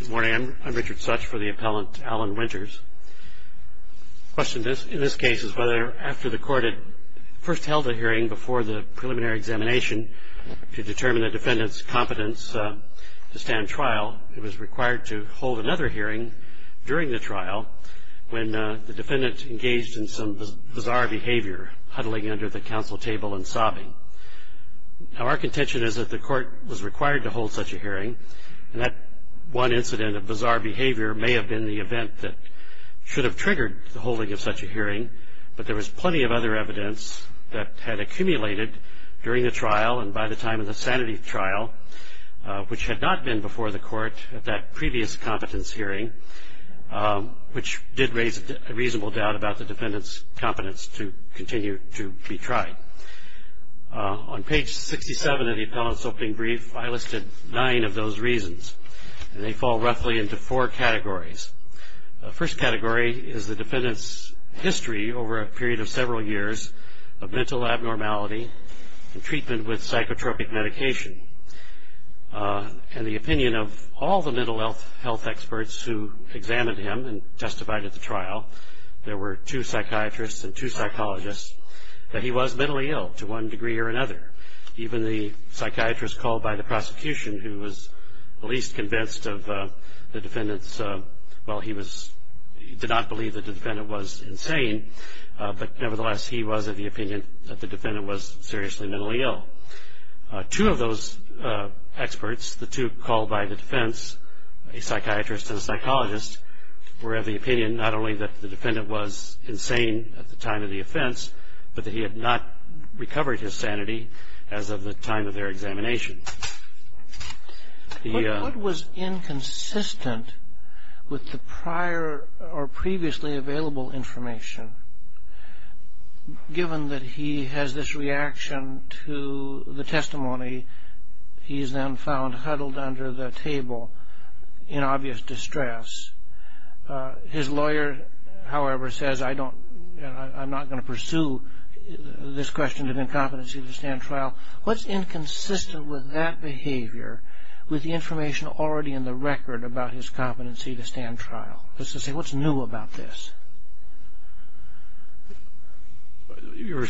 Good morning. I'm Richard Such for the appellant Alan Winters. The question in this case is whether after the court had first held a hearing before the preliminary examination to determine the defendant's competence to stand trial, it was required to hold another hearing during the trial when the defendant engaged in some bizarre behavior, huddling under the counsel table and sobbing. Now our contention is that the court was required to hold such a hearing and that one incident of bizarre behavior may have been the event that should have triggered the holding of such a hearing, but there was plenty of other evidence that had accumulated during the trial and by the time of the sanity trial, which had not been before the court at that previous competence hearing, which did raise a reasonable doubt about the defendant's competence to continue to be tried. On page 67 of the appellant's opening brief, I listed nine of those reasons and they fall roughly into four categories. The first category is the defendant's history over a period of several years of mental abnormality and treatment with psychotropic medication and the opinion of all the mental health experts who examined him and testified at the trial, there were two psychiatrists and two psychologists, that he was mentally ill to one degree or another. Even the psychiatrist called by the prosecution who was the least convinced of the defendant's, well he did not believe that the defendant was insane, but nevertheless he was of the opinion that the defendant was seriously mentally ill. Two of those experts, the two called by the defense, a psychiatrist and a psychologist, were of the opinion not only that the defendant was insane at the time of the offense, but that he had not recovered his sanity as of the time of their examination. What was inconsistent with the prior or previously available information, given that he has this reaction to the testimony, he is then found huddled under the table in obvious distress. His lawyer, however, says I'm not going to pursue this question of incompetency to stand trial. What's inconsistent with that behavior, with the information already in the record about his competency to stand trial? What's new about this? You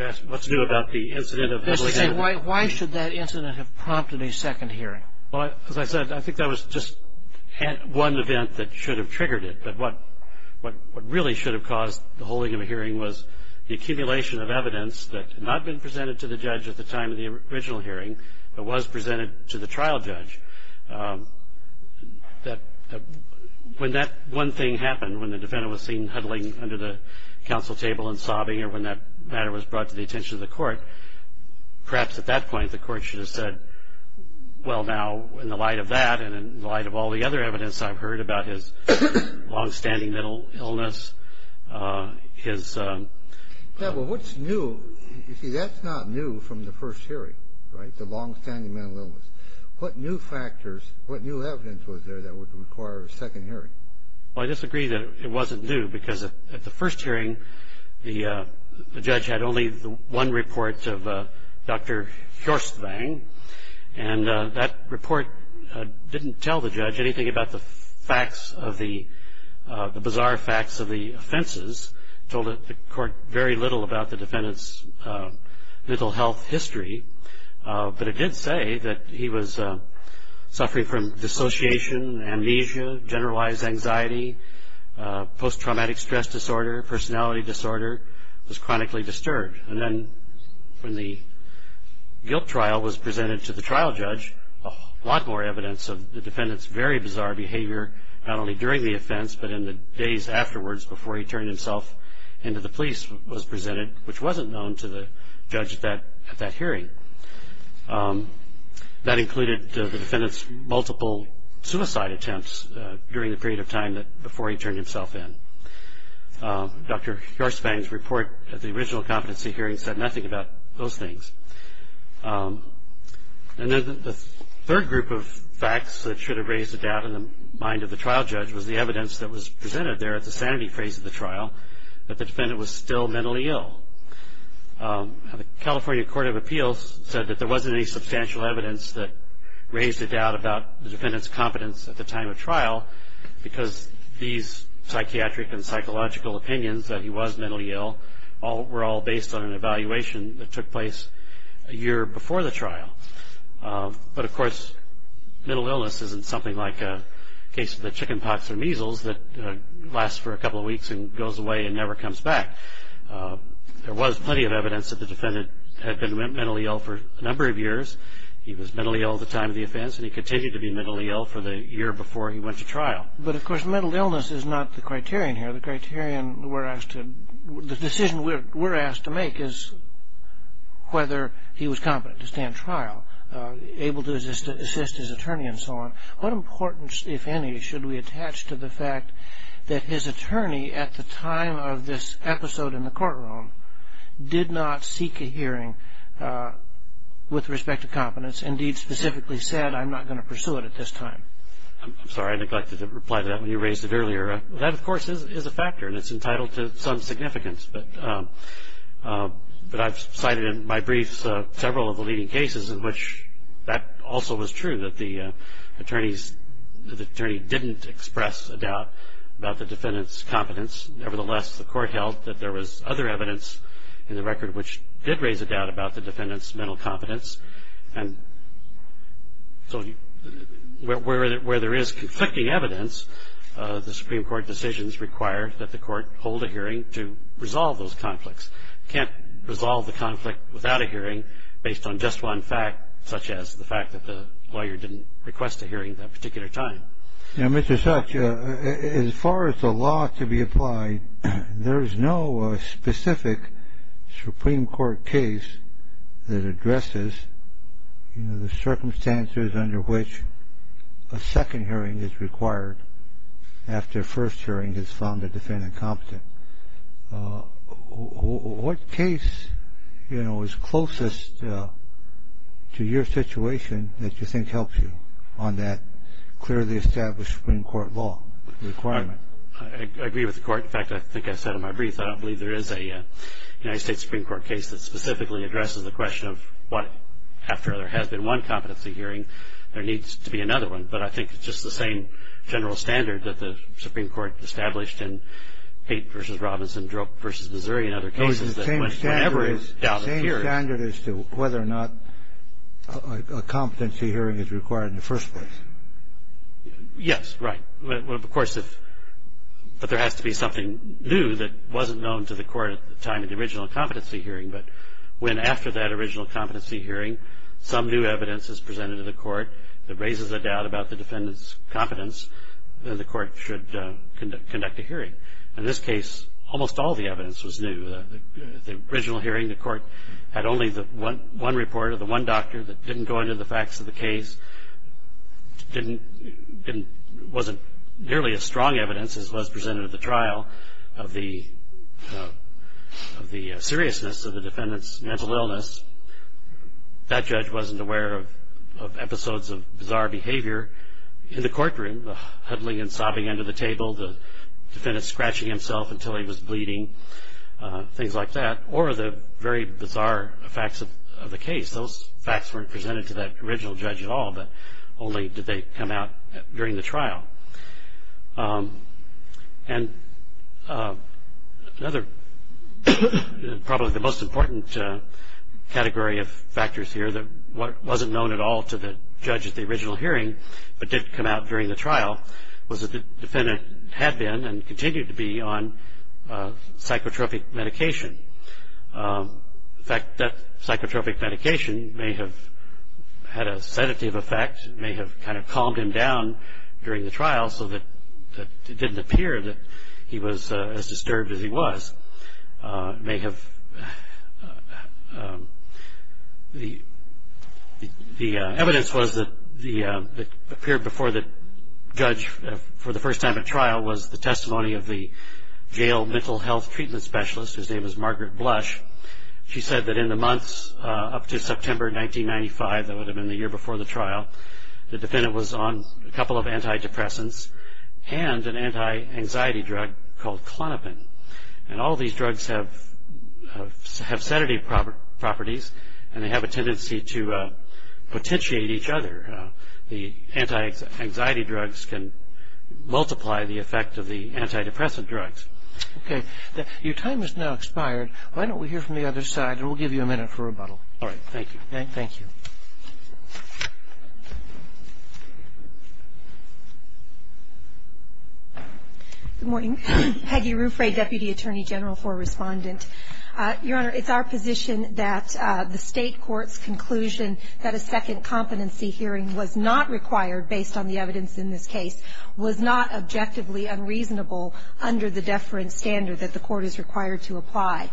asked what's new about the incident of the hearing? Just to say, why should that incident have prompted a second hearing? Well, as I said, I think that was just one event that should have triggered it, but what really should have caused the holding of a hearing was the accumulation of evidence that had not been presented to the judge at the time of the original hearing, but was presented to the trial judge. When that one thing happened, when the defendant was seen huddling under the counsel table and sobbing, or when that matter was brought to the attention of the court, perhaps at that point the court should have said, well, now, in the light of that and in the light of all the other evidence I've heard about his long-standing mental illness, his… Yeah, well, what's new? You see, that's not new from the first hearing, right, the mental illness. What new factors, what new evidence was there that would require a second hearing? Well, I disagree that it wasn't new, because at the first hearing the judge had only one report of Dr. Hjorstvang, and that report didn't tell the judge anything about the facts of the, the bizarre facts of the offenses. It told the court very little about the defendant's mental health history, but it did say that he was suffering from dissociation, amnesia, generalized anxiety, post-traumatic stress disorder, personality disorder, was chronically disturbed. And then when the guilt trial was presented to the trial judge, a lot more evidence of the defendant's very bizarre behavior, not only during the offense, but in the days afterwards before he turned himself into the police was presented, which wasn't known to the judge at that hearing. That included the defendant's multiple suicide attempts during the period of time before he turned himself in. Dr. Hjorstvang's report at the original competency hearing said nothing about those things. And then the third group of facts that should have raised a doubt in the mind of the trial judge was the evidence that was presented there at the sanity phase of the trial, that the defendant was still mentally ill. The California Court of Appeals said that there wasn't any substantial evidence that raised a doubt about the defendant's competence at the time of trial, because these psychiatric and psychological opinions that he was mentally ill were all based on an evaluation that took place a year before the trial. But of course, mental illness isn't something like a case of the chicken pox or measles that lasts for a couple of weeks and goes away and never comes back. There was plenty of evidence that the defendant had been mentally ill for a number of years. He was mentally ill at the time of the offense, and he continued to be mentally ill for the year before he went to trial. But of course, mental illness is not the criterion here. The decision we're asked to make is whether he was competent to stand trial, able to assist his attorney, and so on. What importance, if any, should we attach to the fact that his attorney, at the time of this episode in the courtroom, did not seek a hearing with respect to competence, indeed, specifically said, I'm not going to pursue it at this time? I'm sorry. I neglected to reply to that when you raised it earlier. That, of course, is a factor, and it's entitled to some significance. But I've cited in my briefs several of the leading cases in which that also was true, that the attorney didn't express a doubt about the defendant's competence. Nevertheless, the court held that there was other evidence in the record which did raise a doubt about the defendant's mental competence. And so where there is conflicting evidence, the Supreme Court decisions require that the court hold a hearing to resolve those conflicts. You can't resolve the conflict without a hearing based on just one fact, such as the fact that the lawyer didn't request a hearing that particular time. Now, Mr. Such, as far as the law to be applied, there is no specific Supreme Court case that in the circumstances under which a second hearing is required after a first hearing is found a defendant competent. What case, you know, is closest to your situation that you think helps you on that clearly established Supreme Court law requirement? I agree with the court. In fact, I think I said in my brief, I don't believe there is a United States Supreme Court case that specifically addresses the question of what, after there has been one competency hearing, there needs to be another one. But I think it's just the same general standard that the Supreme Court established in Haight v. Robinson, Droke v. Missouri and other cases that went whenever a doubt appeared. Oh, it's the same standard as to whether or not a competency hearing is required in the first place. Yes, right. Of course, if there has to be something new that wasn't known to the court at the time of the original competency hearing, but when after that original competency hearing some new evidence is presented to the court that raises a doubt about the defendant's competence, then the court should conduct a hearing. In this case, almost all the evidence was new. At the original hearing, the court had only one report of the one doctor that didn't go into the facts of the case, wasn't nearly as strong evidence as was presented at the trial of the seriousness of the defendant's mental illness. That judge wasn't aware of episodes of bizarre behavior in the courtroom, the huddling and sobbing under the table, the defendant scratching himself until he was bleeding, things like that, or the very bizarre facts of the case. Those facts weren't presented to that original judge at all, but only did they come out during the trial. Probably the most important category of factors here that wasn't known at all to the judge at the original hearing, but did come out during the trial, was that the defendant had been and continued to be on psychotropic medication. In fact, that psychotropic medication may have had a sedative effect, may have kind of calmed him down during the trial so that it didn't appear that he was as disturbed as he was. The evidence that appeared before the judge for the first time at trial was the testimony of the jail mental health treatment specialist, whose name was Margaret Blush. She said that in the months up to September 1995, that would have been the year before the trial, the defendant was on a couple of antidepressants and an anti-anxiety drug called Klonopin. All these drugs have sedative properties and they have a tendency to potentiate each other. The anti-anxiety drugs can multiply the effect of the antidepressant drugs. Okay. Your time has now expired. Why don't we hear from the other side and we'll give you a minute for rebuttal. All right. Thank you. Thank you. Good morning. Peggy Ruffray, Deputy Attorney General for Respondent. Your Honor, it's our position that the State Court's conclusion that a second competency hearing was not required based on the evidence in this case was not objectively unreasonable under the deference standard that the court is required to apply.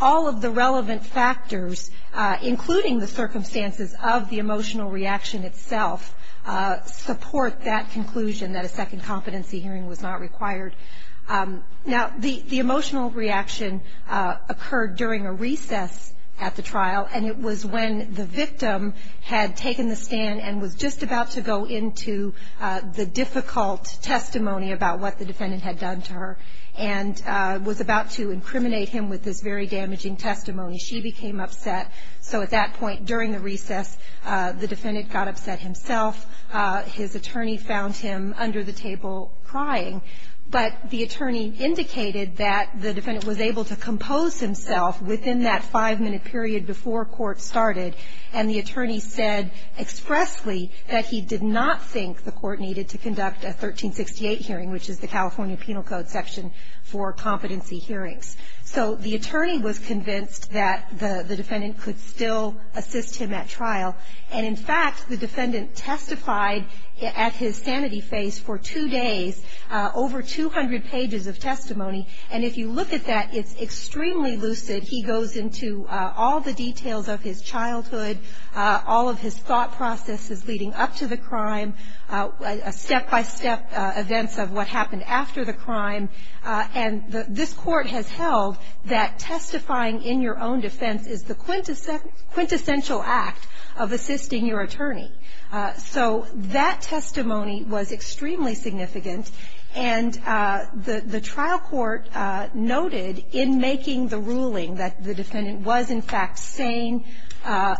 All of the relevant factors, including the circumstances of the emotional reaction itself, support that conclusion that a second competency hearing was not required. Now, the emotional reaction occurred during a recess at the trial and it was when the defendant got into the difficult testimony about what the defendant had done to her and was about to incriminate him with this very damaging testimony. She became upset. So at that point during the recess, the defendant got upset himself. His attorney found him under the table crying. But the attorney indicated that the defendant was able to compose himself within that five-minute period before court started and the attorney said expressly that he did not think the court needed to conduct a 1368 hearing, which is the California Penal Code section for competency hearings. So the attorney was convinced that the defendant could still assist him at trial. And in fact, the defendant testified at his sanity phase for two days, over 200 pages of testimony. And if you look at that, it's extremely lucid. He goes into all the details of his childhood, all of his thought processes leading up to the crime, step-by-step events of what happened after the crime. And this court has held that testifying in your own defense is the quintessential act of assisting your attorney. So that testimony was extremely significant. And the trial court noted in making the ruling that the defendant was, in fact, sane.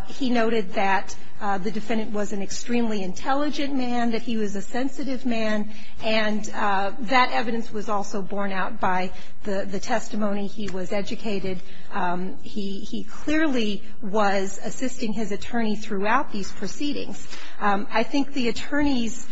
He noted that the defendant was an extremely intelligent man, that he was a sensitive man. And that evidence was also borne out by the testimony. He was educated. He clearly was assisting his attorney throughout these proceedings. I think the attorney's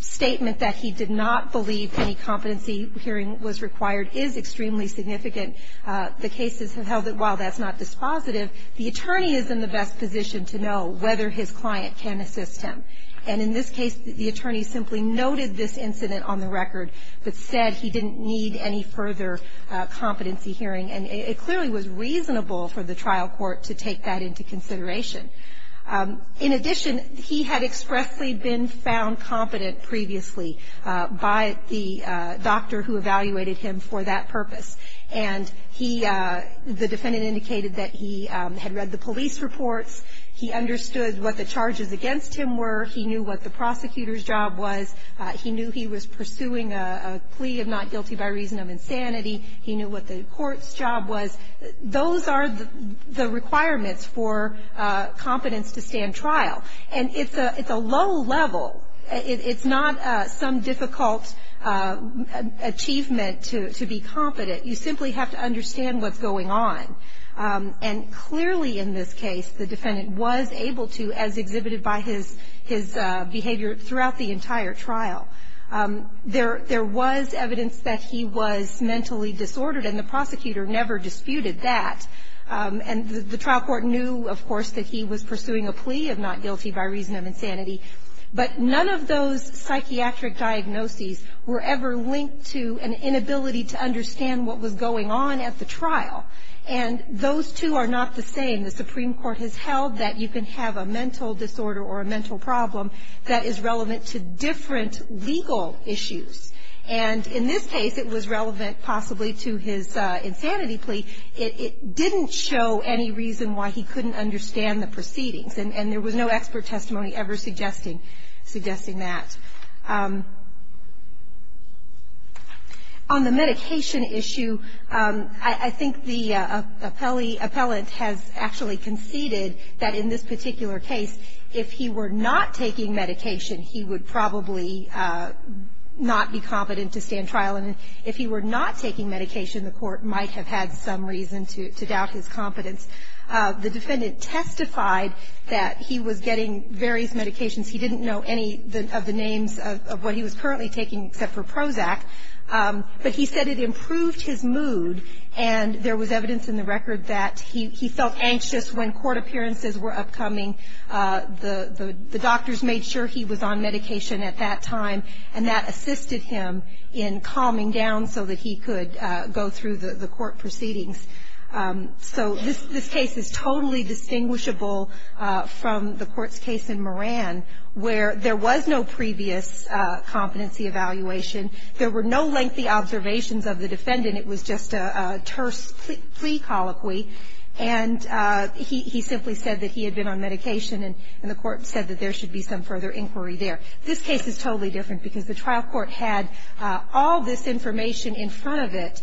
statement that he did not believe any competency hearing was required is extremely significant. The cases have held that while that's not dispositive, the attorney is in the best position to know whether his client can assist him. And in this case, the attorney simply noted this incident on the record, but said he didn't need any further competency hearing. And it clearly was reasonable for the trial court to take that into consideration. In addition, he had expressly been found competent previously by the doctor who evaluated him for that purpose. And he, the defendant indicated that he had read the police reports. He understood what the charges against him were. He knew what the prosecutor's job was. He knew he was pursuing a plea of not guilty by reason of insanity. He knew what the court's job was. Those are the requirements for competence to stand trial. And it's a low level. It's not some difficult achievement to be competent. You simply have to understand what's going on. And clearly in this case, the defendant was able to, as exhibited by his behavior throughout the entire trial, there was evidence that he was mentally disordered, and the prosecutor never disputed that. And the trial court knew, of course, that he was pursuing a plea of not guilty by reason of insanity. But none of those psychiatric diagnoses were ever linked to an inability to understand what was going on at the trial. And those two are not the same. The Supreme Court has held that you can have a mental disorder or a mental problem that is relevant to different legal issues. And in this case, it was relevant possibly to his insanity plea. It didn't show any reason why he couldn't understand the proceedings. And there was no expert testimony ever suggesting that. On the medication issue, I think the appellate has actually conceded that in this particular case, if he were not taking medication, he would probably not be competent to stand trial. And if he were not taking medication, the court might have had some reason to doubt his competence. The defendant testified that he was getting various medications. He didn't know any of the names of what he was currently taking except for Prozac. But he said it improved his mood, and there was evidence in the record that he felt anxious when court appearances were upcoming. The doctors made sure he was on medication at that time, and that assisted him in calming down so that he could go through the court proceedings. So this case is totally distinguishable from the court's case in Moran, where there was no previous competency evaluation. There were no lengthy observations of the defendant. It was just a terse plea colloquy. And he simply said that he had been on medication, and the court said that there should be some further inquiry there. This case is totally different because the trial court had all this information in front of it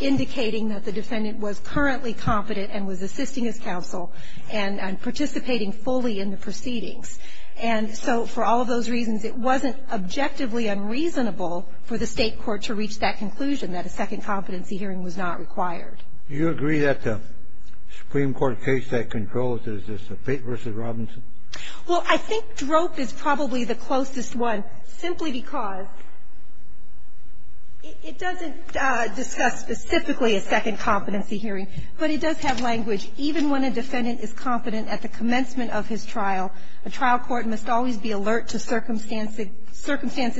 indicating that the defendant was currently competent and was assisting his counsel and participating fully in the proceedings. And so for all of those reasons, it wasn't objectively unreasonable for the state court to reach that conclusion that a second competency hearing was not required. You agree that the Supreme Court case that controls this is the Fate v. Robinson? Well, I think DROP is probably the closest one, simply because it doesn't discuss specifically a second competency hearing, but it does have language. Even when a defendant is competent at the commencement of his trial, a trial court must always be alert to circumstances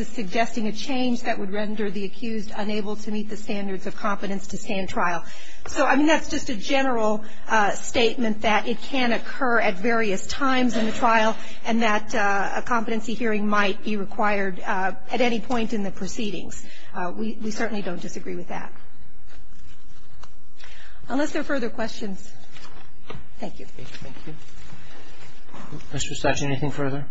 suggesting a change that would render the accused unable to meet the standards of competence to stand trial. So, I mean, that's just a general statement that it can occur at various times in the trial and that a competency hearing might be required at any point in the proceedings. We certainly don't disagree with that. Unless there are further questions. Thank you. Thank you. Mr. Stachin, anything further?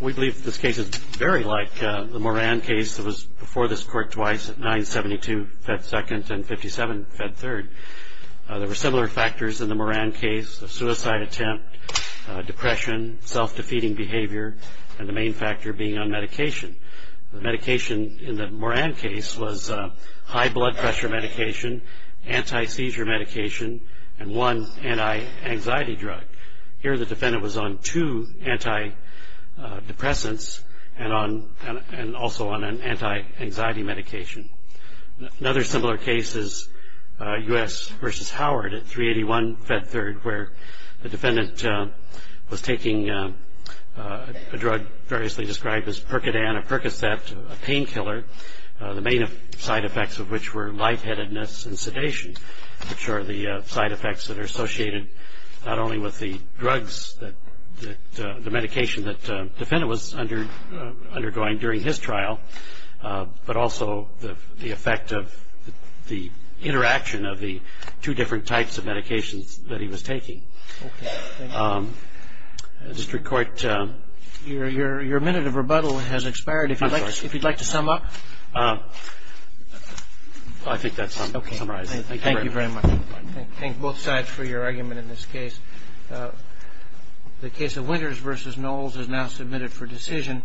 We believe that this case is very like the Moran case that was before this court twice at 972 Fed 2nd and 57 Fed 3rd. There were similar factors in the Moran case, a suicide attempt, depression, self-defeating behavior, and the main factor being on medication. The medication in the Moran case was high blood pressure medication, anti-seizure medication, and one anti-anxiety drug. Here the defendant was on two anti-depressants and also on an anti-anxiety medication. Another similar case is U.S. v. Howard at 381 Fed 3rd where the defendant was taking a drug variously described as Percodan or Percocet, a painkiller. The main side effects of which were lightheadedness and sedation, which are the side effects that are associated not only with the drugs that the medication that the defendant was undergoing during his trial, but also the effect of the interaction of the two different types of medications that he was taking. Your minute of rebuttal has expired. If you'd like to sum up? I think that's all I can summarize. Thank you very much. Thank both sides for your argument in this case. The case of Winters v. Knowles is now submitted for decision.